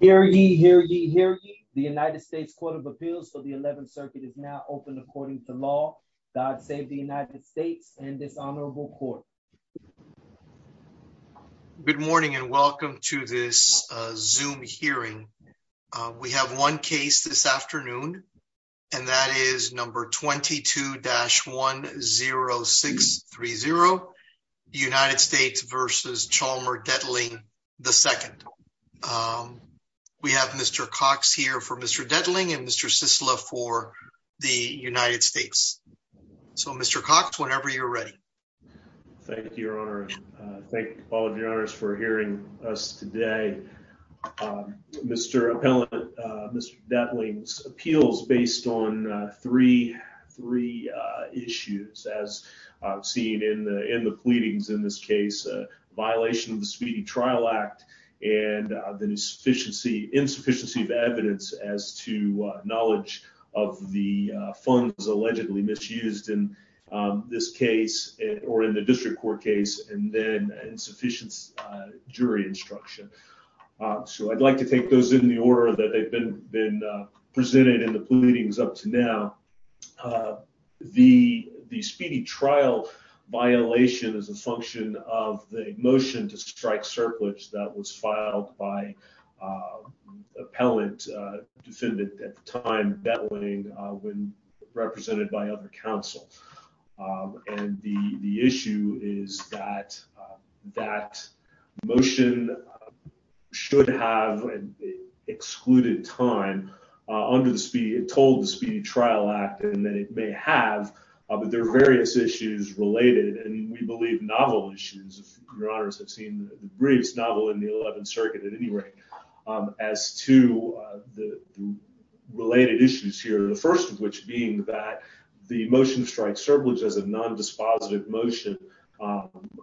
Hear ye, hear ye, hear ye, the United States Court of Appeals for the 11th Circuit is now open according to law. God save the United States and this honorable court. Good morning and welcome to this Zoom hearing. We have one case this afternoon, and that is number 22-10630, United States v. Chalmer Detling, II. We have Mr. Cox here for Mr. Detling and Mr. Sisla for the United States. So, Mr. Cox, whenever you're ready. Thank you, your honor. Thank all of your honors for hearing us today. Mr. Appellant, Mr. Detling's case is based on three issues as seen in the pleadings in this case. A violation of the Speedy Trial Act and the insufficiency of evidence as to knowledge of the funds allegedly misused in this case or in the district court case, and then insufficient jury instruction. So, I'd like to take those in the order that they've been presented in the pleadings up to now. The speedy trial violation is a function of the motion to strike surplus that was filed by appellant defendant at the time, Detling, when represented by other counsel. And the issue is that motion should have excluded time under the Speedy, told the Speedy Trial Act, and then it may have, but there are various issues related and we believe novel issues, if your honors have seen the briefs, novel in the 11th Circuit at any rate, as to the related issues here. The first of which being that the motion to strike surplus as a non-dispositive motion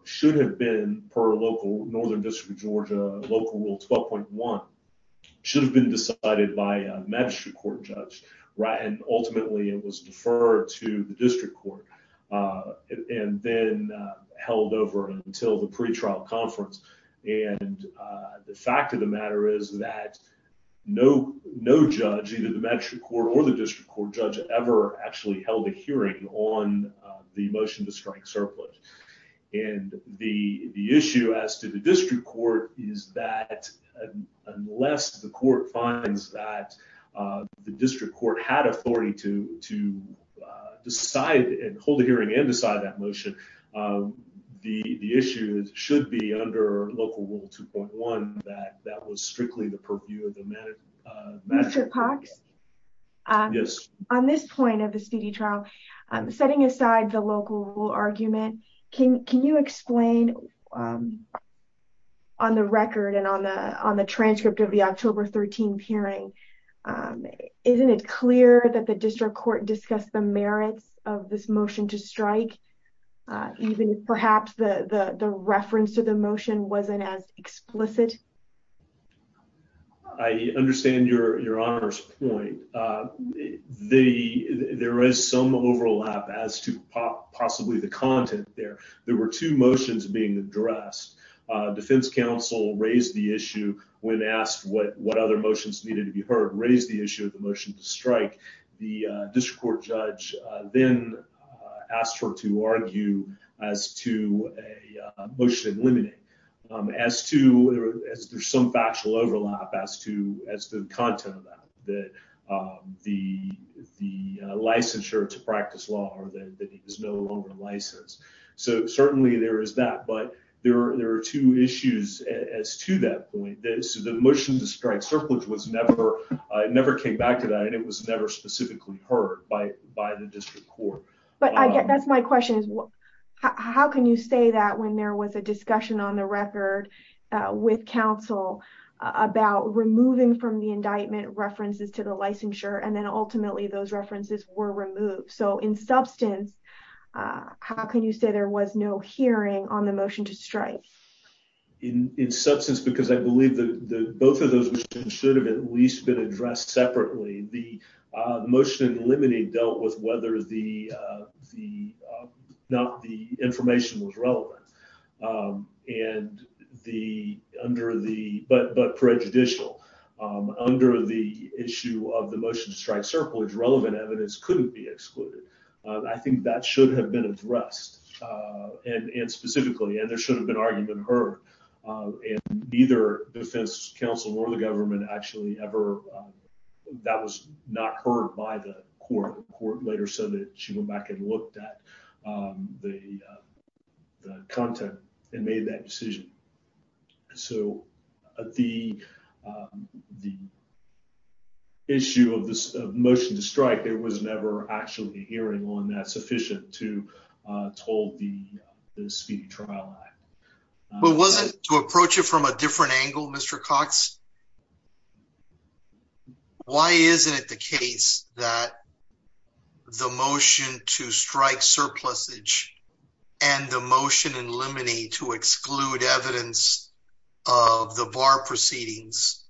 should have been per local Northern District of Georgia Local Rule 12.1, should have been decided by a magistrate court judge, right, and ultimately it was deferred to the district court and then held over until the pretrial conference. And the fact of the matter is that no judge, either the magistrate court or the district court, ever actually held a hearing on the motion to strike surplus. And the issue as to the district court is that unless the court finds that the district court had authority to decide and hold a hearing and decide that motion, the issue should be under Local Rule 2.1, that that was the point of the Speedy Trial. Setting aside the local rule argument, can you explain on the record and on the transcript of the October 13th hearing, isn't it clear that the district court discussed the merits of this motion to strike? Even if perhaps the reference to the motion wasn't as explicit? I understand your Honor's point. There is some overlap as to possibly the content there. There were two motions being addressed. Defense counsel raised the issue when asked what other motions needed to be heard, raised the issue of the motion to strike. The district court judge then asked her to argue as to a motion in limine, as to some factual overlap as to the content of that, that the licensure to practice law or that he was no longer licensed. So certainly there is that, but there are two issues as to that point. The motion to strike surplus never came back to that and it was never specifically heard by the district court. But that's my question. How can you say that when there was a discussion on the record with counsel about removing from the indictment references to the licensure and then ultimately those references were removed? So in substance, how can you say there was no hearing on the motion to strike? In substance, because I believe that both of those should have at least been addressed separately. The motion in limine dealt with whether the information was relevant, but prejudicial. Under the issue of the motion to strike surplus, relevant evidence couldn't be excluded. I think that should have been addressed and specifically, and there should have been argument heard. And neither defense counsel or the government actually ever, that was not heard by the court. The court later said that she went back and looked at the content and made that decision. So the issue of this motion to strike, there was never actually a hearing on that sufficient to hold the trial. But was it to approach it from a different angle, Mr. Cox? Why isn't it the case that the motion to strike surplus age and the motion in limine to exclude evidence of the bar proceedings?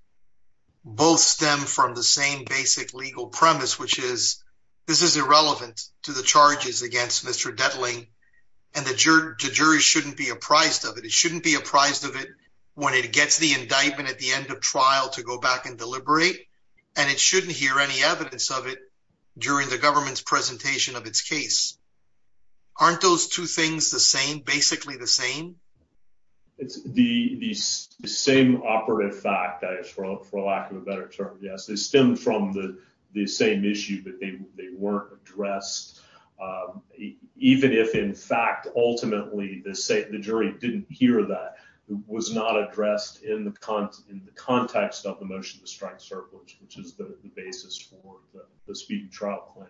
Both stem from the same basic legal premise, which is this is irrelevant to the charges against Mr. Dettling and the jury shouldn't be apprised of it. It shouldn't be apprised of it when it gets the indictment at the end of trial to go back and deliberate, and it shouldn't hear any evidence of it during the government's presentation of its case. Aren't those two things the same, basically the same? It's the same operative fact, for lack of a better term. Yes, they stem from the same issue, but they weren't addressed, even if, in fact, ultimately the jury didn't hear that was not addressed in the context of the motion to strike surplus, which is the basis for the speed and trial claim.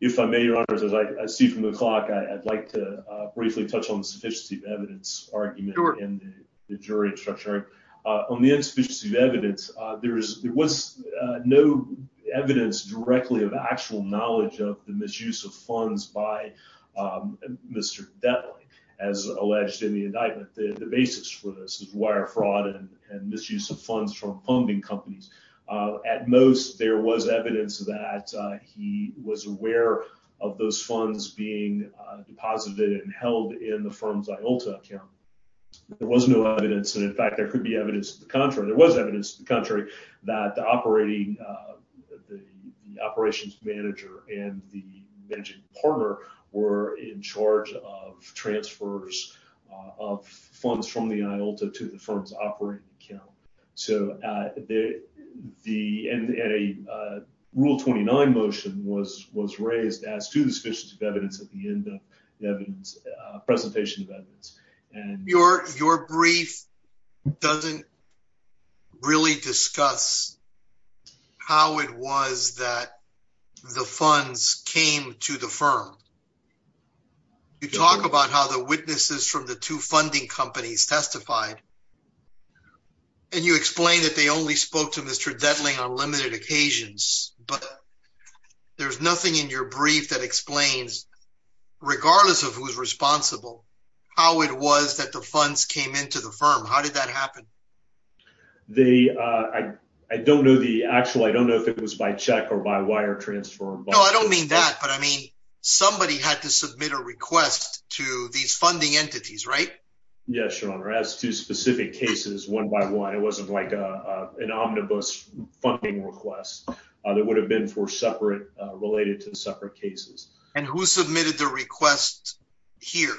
If I may, Your Honor, as I see from the clock, I'd like to briefly touch on the sufficiency of evidence argument in the jury structure. On the insufficiency of evidence, there was no evidence directly of actual knowledge of the misuse of funds by Mr. Dettling, as alleged in the indictment. The basis for this is wire fraud and misuse of funds from funding companies. At most, there was evidence that he was aware of those funds being deposited and held in the firm's IOLTA account. There was no evidence, and, in fact, there could be evidence to the contrary. There was evidence to the contrary that the operations manager and the managing partner were in charge of transfers of funds from the IOLTA to the firm's operating account. And a Rule 29 motion was raised as to the sufficiency of evidence at the end of the presentation of evidence. Your brief doesn't really discuss how it was that the funds came to the firm. You talk about how the witnesses from the two funding companies testified, and you explain that they only spoke to Mr. Dettling on limited occasions. But there's nothing in your brief that explains, regardless of who's responsible, how it was that the funds came into the firm. How did that happen? I don't know if it was by check or by wire transfer. No, I don't mean that. But, I mean, somebody had to submit a request to these funding entities, right? Yes, Your Honor. As to specific cases, one by one, it wasn't like an omnibus funding request. It would have been related to separate cases. And who submitted the request here?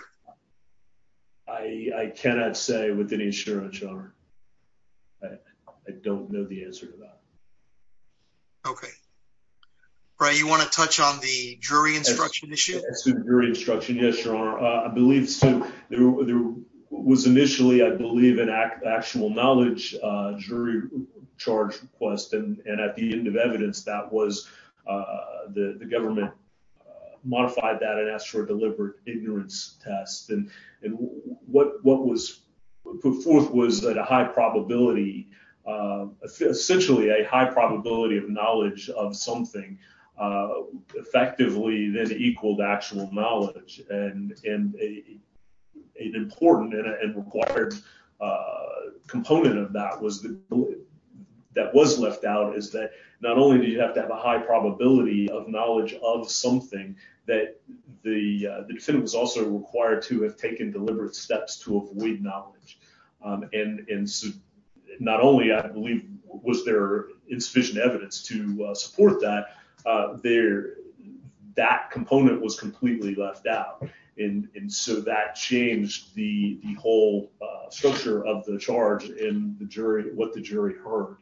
I cannot say with any assurance, Your Honor. I don't know the answer to that. Okay. Brian, you want to touch on the jury instruction issue? As to jury instruction, yes, Your Honor. I believe there was initially, I believe, an actual knowledge jury charge request. And at the end of evidence, the government modified that and asked for a deliberate ignorance test. And what was put forth was that a high probability. Essentially, a high probability of knowledge of something effectively then equaled actual knowledge. And an important and required component of that that was left out is that not only do you have to have a high probability of knowledge of something, that the defendant was also required to have taken deliberate steps to avoid knowledge. And not only, I believe, was there insufficient evidence to support that, that component was completely left out. And so that changed the whole structure of the charge and what the jury heard.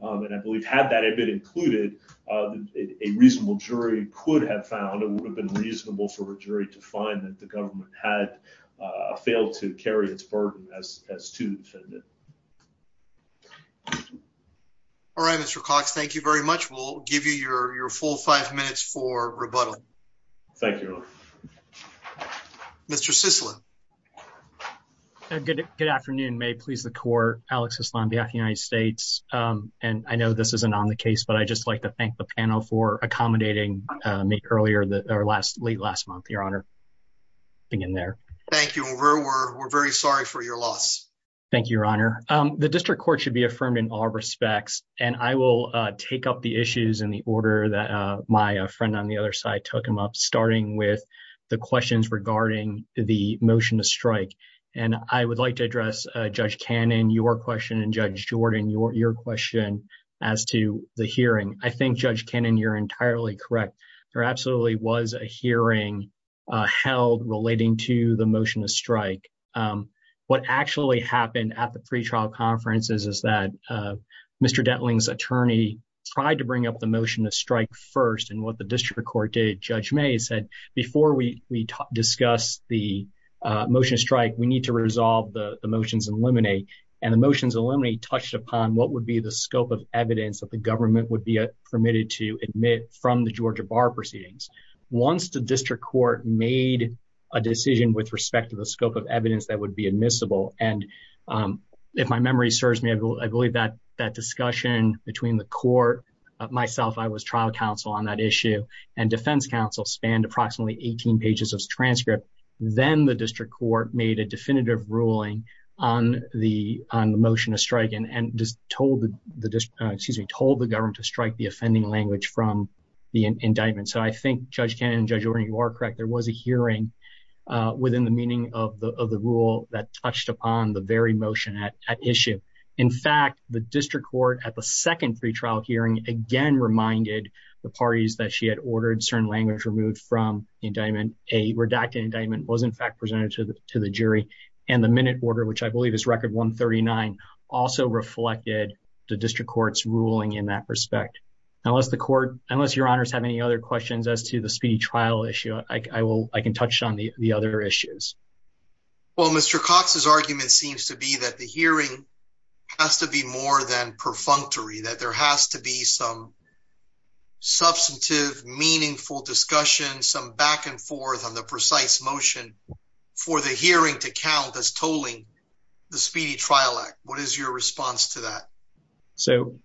And I believe had that been included, a reasonable jury could have found it would have been reasonable for a jury to find that the government had failed to carry its burden as to the defendant. All right, Mr. Cox, thank you very much. We'll give you your full five minutes for rebuttal. Thank you, Your Honor. Mr. Sislin. Good afternoon. May it please the court. Alex Sislin, behalf of the United States. And I know this isn't on the case, but I'd just like to thank the panel for accommodating me earlier or late last month, Your Honor. Thank you. We're very sorry for your loss. Thank you, Your Honor. The district court should be affirmed in all respects. And I will take up the issues in the order that my friend on the other side took him up, starting with the questions regarding the motion to strike. And I would like to address Judge Cannon, your question, and Judge Jordan, your question as to the hearing. I think, Judge Cannon, you're entirely correct. There absolutely was a hearing held relating to the motion to strike. What actually happened at the pretrial conferences is that Mr. Dentling's attorney tried to bring up the motion to strike first. And what the district court did, Judge May said, before we discuss the motion to strike, we need to resolve the motions and eliminate. And the motions eliminate touched upon what would be the scope of evidence that the government would be permitted to admit from the Georgia bar proceedings. Once the district court made a decision with respect to the scope of evidence that would be admissible. And if my memory serves me, I believe that that discussion between the court, myself, I was trial counsel on that issue, and defense counsel spanned approximately 18 pages of transcript. Then the district court made a definitive ruling on the motion to strike and told the government to strike the offending language from the indictment. So I think Judge Cannon, Judge Jordan, you are correct. There was a hearing within the meaning of the rule that touched upon the very motion at issue. In fact, the district court at the second pretrial hearing again reminded the parties that she had ordered certain language removed from the indictment. A redacted indictment was in fact presented to the jury. And the minute order, which I believe is record 139, also reflected the district court's ruling in that respect. Unless the court, unless your honors have any other questions as to the speedy trial issue, I can touch on the other issues. Well, Mr. Cox's argument seems to be that the hearing has to be more than perfunctory, that there has to be some substantive, meaningful discussion, some back and forth on the precise motion for the hearing to count as tolling the Speedy Trial Act. What is your response to that? So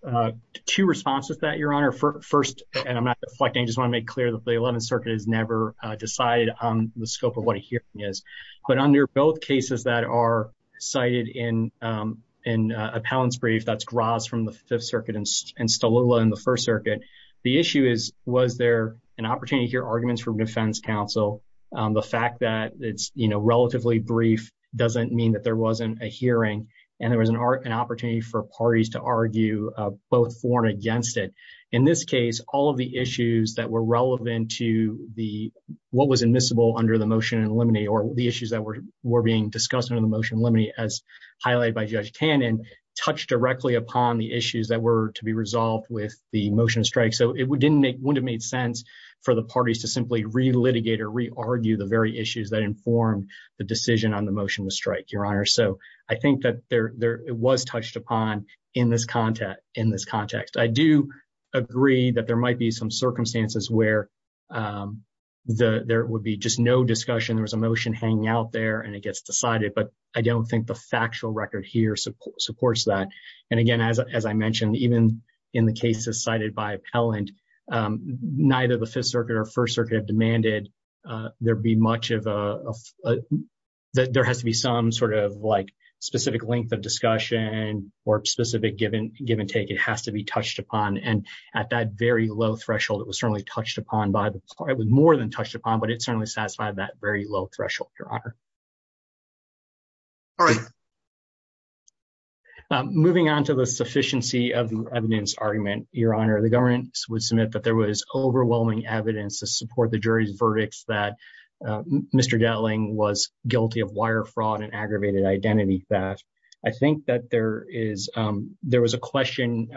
two responses to that, your honor. First, and I'm not deflecting, I just want to make clear that the 11th Circuit has never decided on the scope of what a hearing is. But under both cases that are cited in an appellant's brief, that's Graz from the Fifth Circuit and Stolula in the First Circuit. The issue is, was there an opportunity to hear arguments from defense counsel? The fact that it's relatively brief doesn't mean that there wasn't a hearing. And there was an opportunity for parties to argue both for and against it. In this case, all of the issues that were relevant to what was admissible under the motion in limine or the issues that were being discussed under the motion in limine, as highlighted by Judge Cannon, touched directly upon the issues that were to be resolved with the motion of strike. So it wouldn't have made sense for the parties to simply re-litigate or re-argue the very issues that informed the decision on the motion of strike, your honor. So I think that it was touched upon in this context. I do agree that there might be some circumstances where there would be just no discussion, there was a motion hanging out there, and it gets decided. But I don't think the factual record here supports that. And again, as I mentioned, even in the cases cited by appellant, neither the Fifth Circuit or First Circuit have demanded that there has to be some sort of specific length of discussion or specific give and take. It has to be touched upon. And at that very low threshold, it was certainly touched upon by the court. It was more than touched upon, but it certainly satisfied that very low threshold, your honor. All right. Moving on to the sufficiency of the evidence argument, your honor, the government would submit that there was overwhelming evidence to support the jury's verdicts that Mr. Delling was guilty of wire fraud and aggravated identity theft. I think that there was a question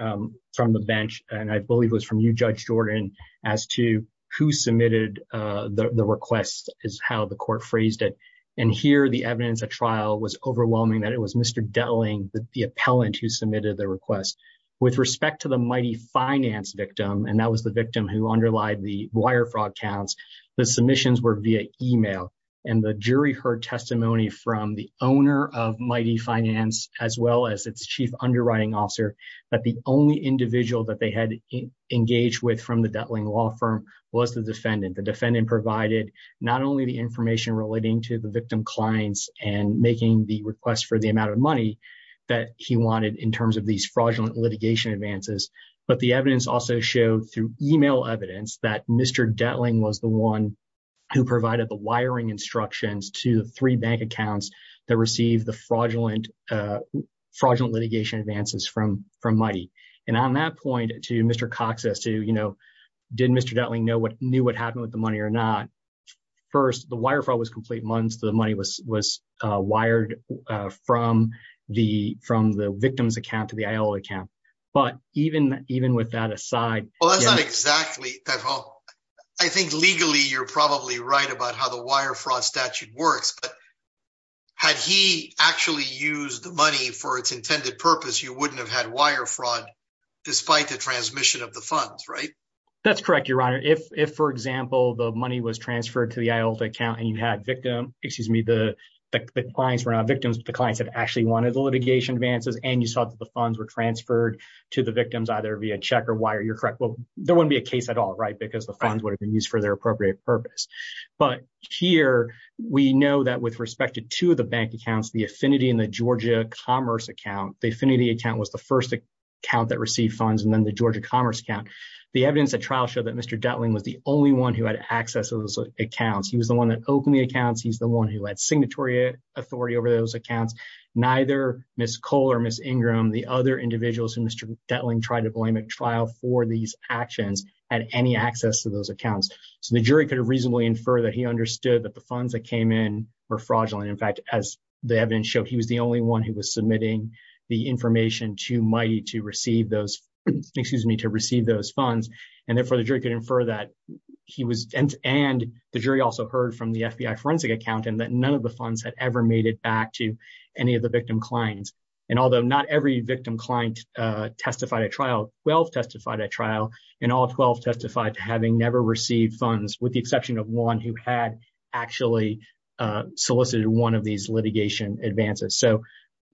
from the bench, and I believe it was from you, Judge Jordan, as to who submitted the request is how the court phrased it. And here the evidence at trial was overwhelming that it was Mr. Delling, the appellant who submitted the request. With respect to the Mighty Finance victim, and that was the victim who underlied the wire fraud counts, the submissions were via email. And the jury heard testimony from the owner of Mighty Finance, as well as its chief underwriting officer, that the only individual that they had engaged with from the Delling law firm was the defendant. The defendant provided not only the information relating to the victim clients and making the request for the amount of money that he wanted in terms of these fraudulent litigation advances, but the evidence also showed through email evidence that Mr. Delling was the one who provided the wiring instructions to the three bank accounts that received the fraudulent litigation advances from Mighty. And on that point to Mr. Cox's to, you know, did Mr. Delling know what knew what happened with the money or not. First, the wire fraud was complete months the money was was wired from the from the victim's account to the account. But even even with that aside. Well, that's not exactly that. Well, I think legally, you're probably right about how the wire fraud statute works, but had he actually used the money for its intended purpose, you wouldn't have had wire fraud, despite the transmission of the funds right. That's correct, Your Honor. If, for example, the money was transferred to the Iota account and you had victim, excuse me, the clients were not victims, the clients that actually wanted the litigation advances and you saw the funds were transferred to the victims either via check or wire, you're correct. Well, there wouldn't be a case at all right because the funds would have been used for their appropriate purpose. But here we know that with respect to two of the bank accounts, the affinity in the Georgia Commerce account, the affinity account was the first account that received funds and then the Georgia Commerce account. The evidence at trial show that Mr. Dettling was the only one who had access to those accounts. He was the one that opened the accounts. He's the one who had signatory authority over those accounts. Neither Ms. Cole or Ms. Ingram, the other individuals who Mr. Dettling tried to blame at trial for these actions had any access to those accounts. So the jury could reasonably infer that he understood that the funds that came in were fraudulent. In fact, as the evidence showed, he was the only one who was submitting the information to MITEI to receive those, excuse me, to receive those funds. And therefore the jury could infer that he was, and the jury also heard from the FBI forensic accountant that none of the funds had ever made it back to any of the victim clients. And although not every victim client testified at trial, 12 testified at trial, and all 12 testified to having never received funds with the exception of one who had actually solicited one of these litigation advances. So,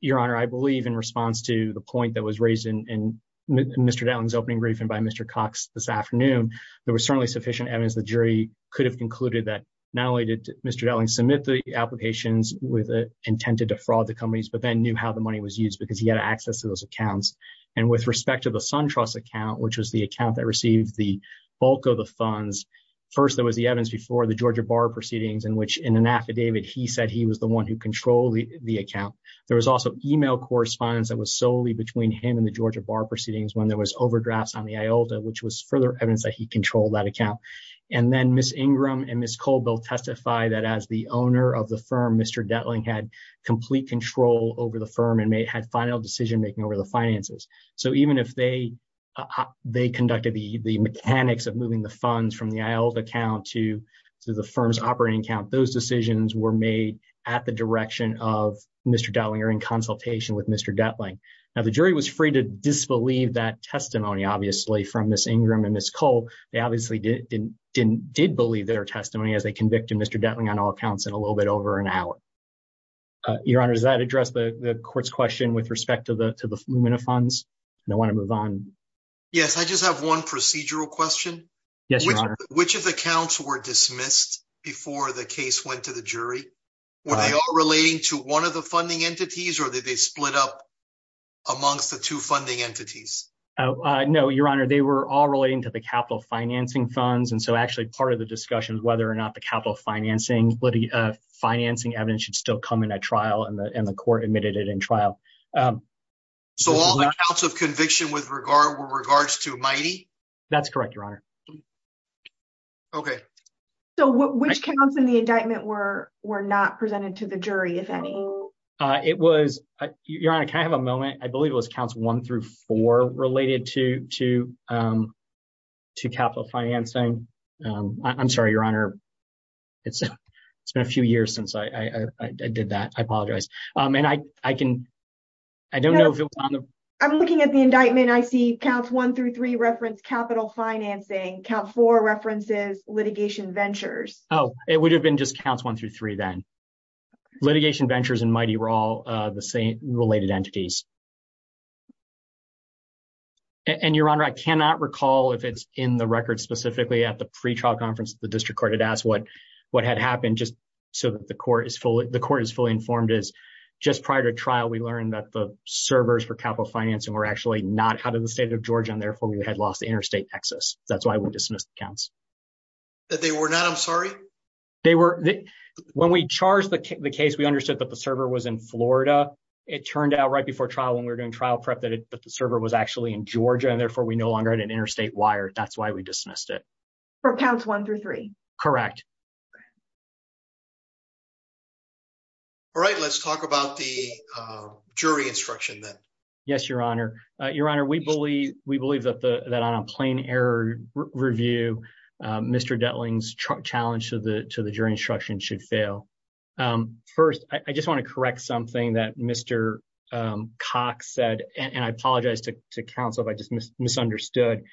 Your Honor, I believe in response to the point that was raised in Mr. Dettling's opening briefing by Mr. Cox this afternoon, there was certainly sufficient evidence the jury could have concluded that not only did Mr. Dettling submit the applications with the intent to defraud the companies, but then knew how the money was used because he had access to those accounts. And with respect to the SunTrust account, which was the account that received the bulk of the funds, first there was the evidence before the Georgia Bar proceedings in which in an affidavit he said he was the one who controlled the account. There was also email correspondence that was solely between him and the Georgia Bar proceedings when there was overdrafts on the IOLTA, which was further evidence that he controlled that account. And then Ms. Ingram and Ms. Cole both testified that as the owner of the firm, Mr. Dettling had complete control over the firm and had final decision making over the finances. So even if they conducted the mechanics of moving the funds from the IOLTA account to the firm's operating account, those decisions were made at the direction of Mr. Dettling or in consultation with Mr. Dettling. Now the jury was free to disbelieve that testimony, obviously, from Ms. Ingram and Ms. Cole. They obviously did believe their testimony as they convicted Mr. Dettling on all accounts in a little bit over an hour. Your Honor, does that address the court's question with respect to the Lumina funds? And I want to move on. Yes, I just have one procedural question. Yes, Your Honor. Which of the counts were dismissed before the case went to the jury? Were they all relating to one of the funding entities or did they split up amongst the two funding entities? No, Your Honor, they were all relating to the capital financing funds. And so actually part of the discussion is whether or not the capital financing evidence should still come in at trial and the court admitted it in trial. So all the counts of conviction were regards to MITEI? That's correct, Your Honor. Okay. So which counts in the indictment were not presented to the jury, if any? It was, Your Honor, can I have a moment? I believe it was counts one through four related to capital financing. I'm sorry, Your Honor. It's been a few years since I did that. I apologize. I'm looking at the indictment. I see counts one through three reference capital financing. Count four references litigation ventures. Oh, it would have been just counts one through three then. Litigation ventures and MITEI were all the same related entities. And, Your Honor, I cannot recall if it's in the record specifically at the pre-trial conference that the district court had asked what had happened just so that the court is fully informed. Just prior to trial, we learned that the servers for capital financing were actually not out of the state of Georgia, and therefore we had lost interstate access. That's why we dismissed the counts. They were not? I'm sorry? When we charged the case, we understood that the server was in Florida. It turned out right before trial when we were doing trial prep that the server was actually in Georgia, and therefore we no longer had an interstate wire. That's why we dismissed it. For counts one through three? Correct. All right, let's talk about the jury instruction then. Yes, Your Honor. Your Honor, we believe that on a plain error review, Mr. Detling's challenge to the jury instruction should fail. First, I just want to correct something that Mr. Cox said, and I apologize to counsel if I just misunderstood.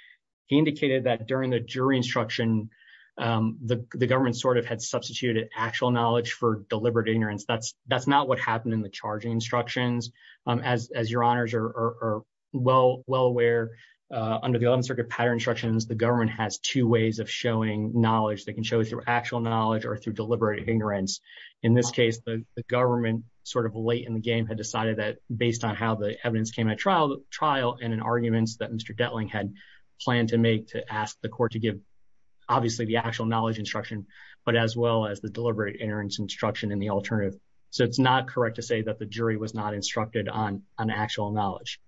He indicated that during the jury instruction, the government sort of had substituted actual knowledge for deliberate ignorance. That's not what happened in the charging instructions. As Your Honors are well aware, under the Eleventh Circuit pattern instructions, the government has two ways of showing knowledge. They can show it through actual knowledge or through deliberate ignorance. In this case, the government, sort of late in the game, had decided that based on how the evidence came at trial, and in arguments that Mr. Detling had planned to make to ask the court to give obviously the actual knowledge instruction, but as well as the deliberate ignorance instruction in the alternative. So it's not correct to say that the jury was not instructed on actual knowledge.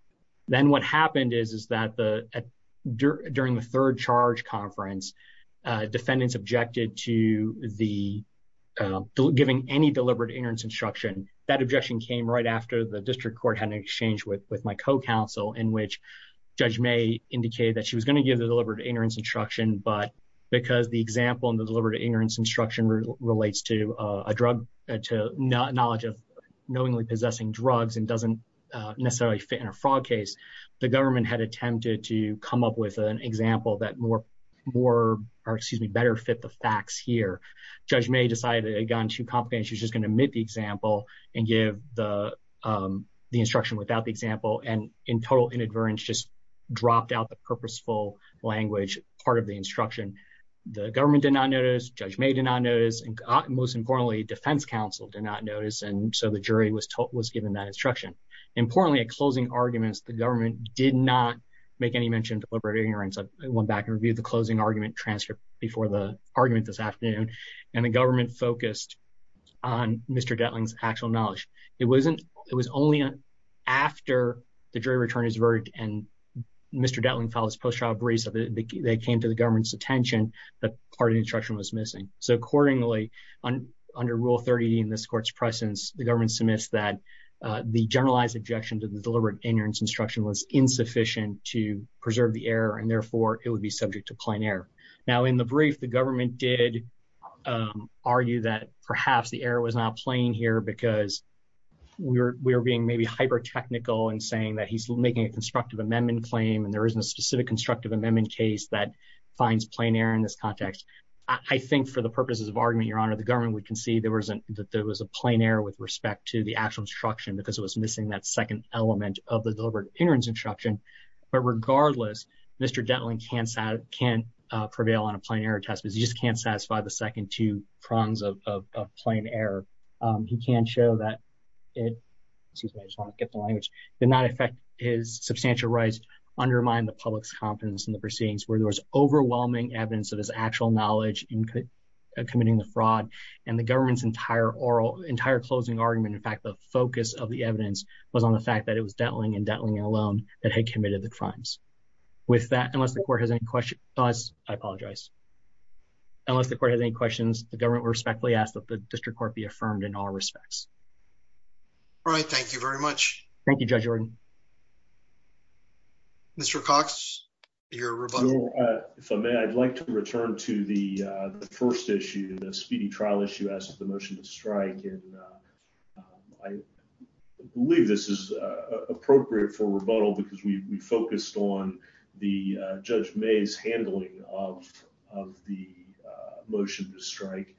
Then what happened is that during the third charge conference, defendants objected to giving any deliberate ignorance instruction. That objection came right after the district court had an exchange with my co-counsel, in which Judge May indicated that she was going to give the deliberate ignorance instruction, but because the example in the deliberate ignorance instruction relates to knowledge of knowingly possessing drugs and doesn't necessarily fit in a fraud case, the government had attempted to come up with an example that better fit the facts here. Judge May decided it had gotten too complicated. She was just going to omit the example and give the instruction without the example, and in total inadvertence, just dropped out the purposeful language part of the instruction. The government did not notice, Judge May did not notice, and most importantly, defense counsel did not notice, and so the jury was given that instruction. Importantly, at closing arguments, the government did not make any mention of deliberate ignorance. I went back and reviewed the closing argument transcript before the argument this afternoon, and the government focused on Mr. Detling's actual knowledge. It was only after the jury returned his verdict and Mr. Detling filed his post-trial briefs that they came to the government's attention that part of the instruction was missing. So accordingly, under Rule 30 in this court's presence, the government submits that the generalized objection to the deliberate ignorance instruction was insufficient to preserve the error, and therefore it would be subject to plain error. Now, in the brief, the government did argue that perhaps the error was not plain here because we were being maybe hyper-technical in saying that he's making a constructive amendment claim and there isn't a specific constructive amendment case that finds plain error in this context. I think for the purposes of argument, Your Honor, the government would concede that there was a plain error with respect to the actual instruction because it was missing that second element of the deliberate ignorance instruction, but regardless, Mr. Detling can't prevail on a plain error test because he just can't satisfy the second two prongs of plain error. He can show that it did not affect his substantial rights, undermine the public's confidence in the proceedings, where there was overwhelming evidence of his actual knowledge in committing the fraud, and the government's entire closing argument, in fact, the focus of the evidence, was on the fact that it was Detling and Detling alone that had committed the crimes. With that, unless the court has any questions, I apologize. Unless the court has any questions, the government respectfully asks that the district court be affirmed in all respects. All right. Thank you very much. Thank you, Judge Ordon. Mr. Cox, your rebuttal. If I may, I'd like to return to the first issue, the speedy trial issue as to the motion to strike, and I believe this is appropriate for rebuttal because we focused on the Judge May's handling of the motion to strike,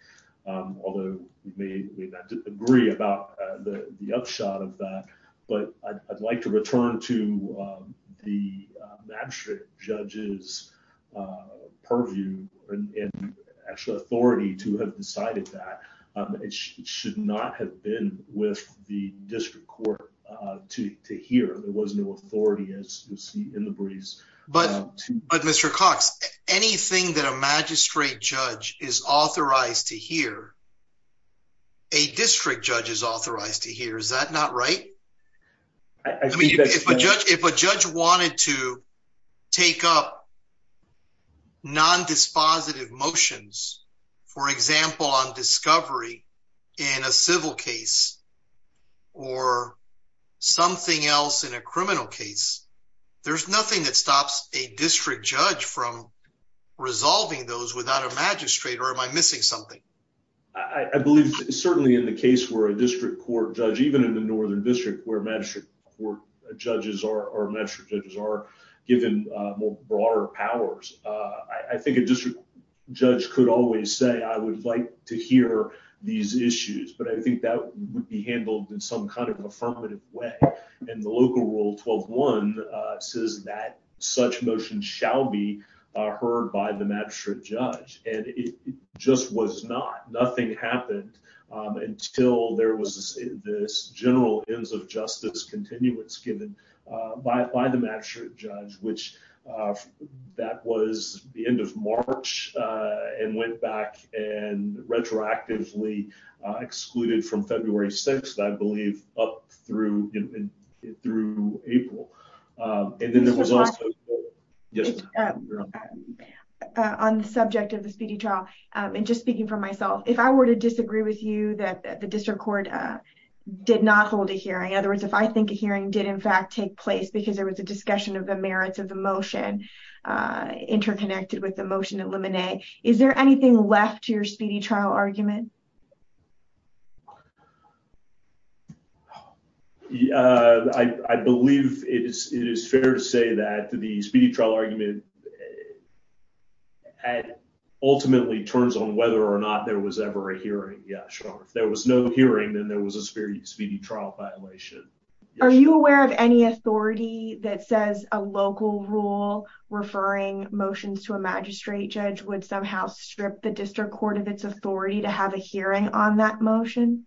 although we may not agree about the upshot of that, but I'd like to return to the magistrate judge's purview and actual authority to have decided that. It should not have been with the district court to hear. There was no authority, as you see in the briefs. But, Mr. Cox, anything that a magistrate judge is authorized to hear, a district judge is authorized to hear. Is that not right? If a judge wanted to take up nondispositive motions, for example, on discovery in a civil case or something else in a criminal case, there's nothing that stops a district judge from resolving those without a magistrate, or am I missing something? I believe certainly in the case where a district court judge, even in the Northern District, where magistrate judges are given more broader powers, I think a district judge could always say, I would like to hear these issues, but I think that would be handled in some kind of affirmative way, and the local rule 12-1 says that such motions shall be heard by the magistrate judge, and it just was not. Nothing happened until there was this general ends of justice continuance given by the magistrate judge, which that was the end of March and went back and retroactively excluded from February 6th, I believe, up through April. On the subject of the speedy trial, and just speaking for myself, if I were to disagree with you that the district court did not hold a hearing, in other words, if I think a hearing did in fact take place because there was a discussion of the merits of the motion interconnected with the motion at Lemonnier, is there anything left to your speedy trial argument? I believe it is fair to say that the speedy trial argument ultimately turns on whether or not there was ever a hearing. Yeah, sure. If there was no hearing, then there was a speedy trial violation. Are you aware of any authority that says a local rule referring motions to a magistrate judge would somehow strip the district court of its authority to have a hearing on that motion?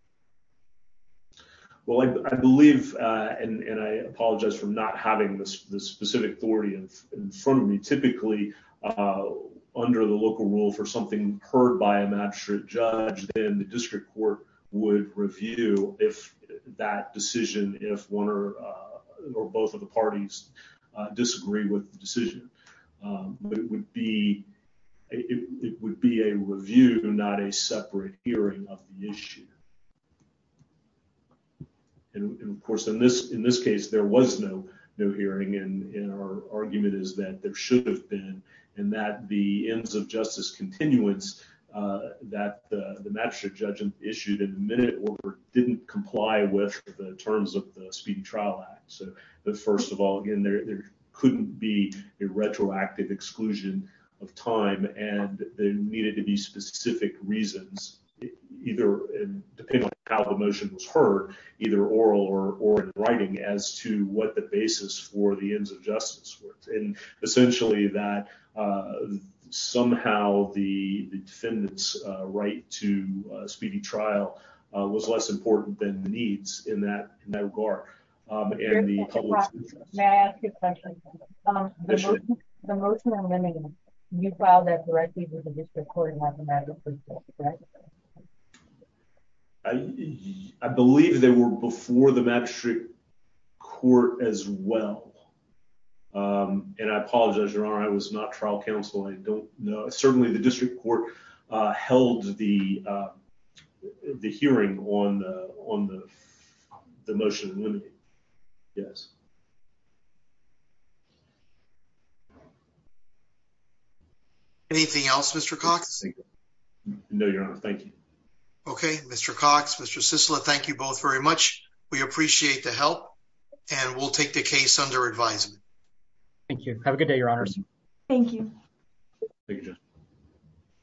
Well, I believe, and I apologize for not having the specific authority in front of me, typically under the local rule for something heard by a magistrate judge, then the district court would review that decision if one or both of the parties disagree with the decision. But it would be a review, not a separate hearing of the issue. And of course, in this case, there was no hearing, and our argument is that there should have been, and that the ends of justice continuance that the magistrate judge issued in the minute order didn't comply with the terms of the Speedy Trial Act. But first of all, again, there couldn't be a retroactive exclusion of time, and there needed to be specific reasons, depending on how the motion was heard, either oral or in writing, as to what the basis for the ends of justice were. And essentially that somehow the defendant's right to a speedy trial was less important than the needs in that regard. Your Honor, may I ask you a question? The motion on limits, you filed that directly to the district court and not the magistrate court, right? I believe they were before the magistrate court as well. And I apologize, Your Honor, I was not trial counsel, I don't know. Certainly the district court held the hearing on the motion. Anything else, Mr. Cox? No, Your Honor, thank you. Okay, Mr. Cox, Mr. Cicilla, thank you both very much. We appreciate the help, and we'll take the case under advisement. Thank you. Have a good day, Your Honors. Thank you. Thank you.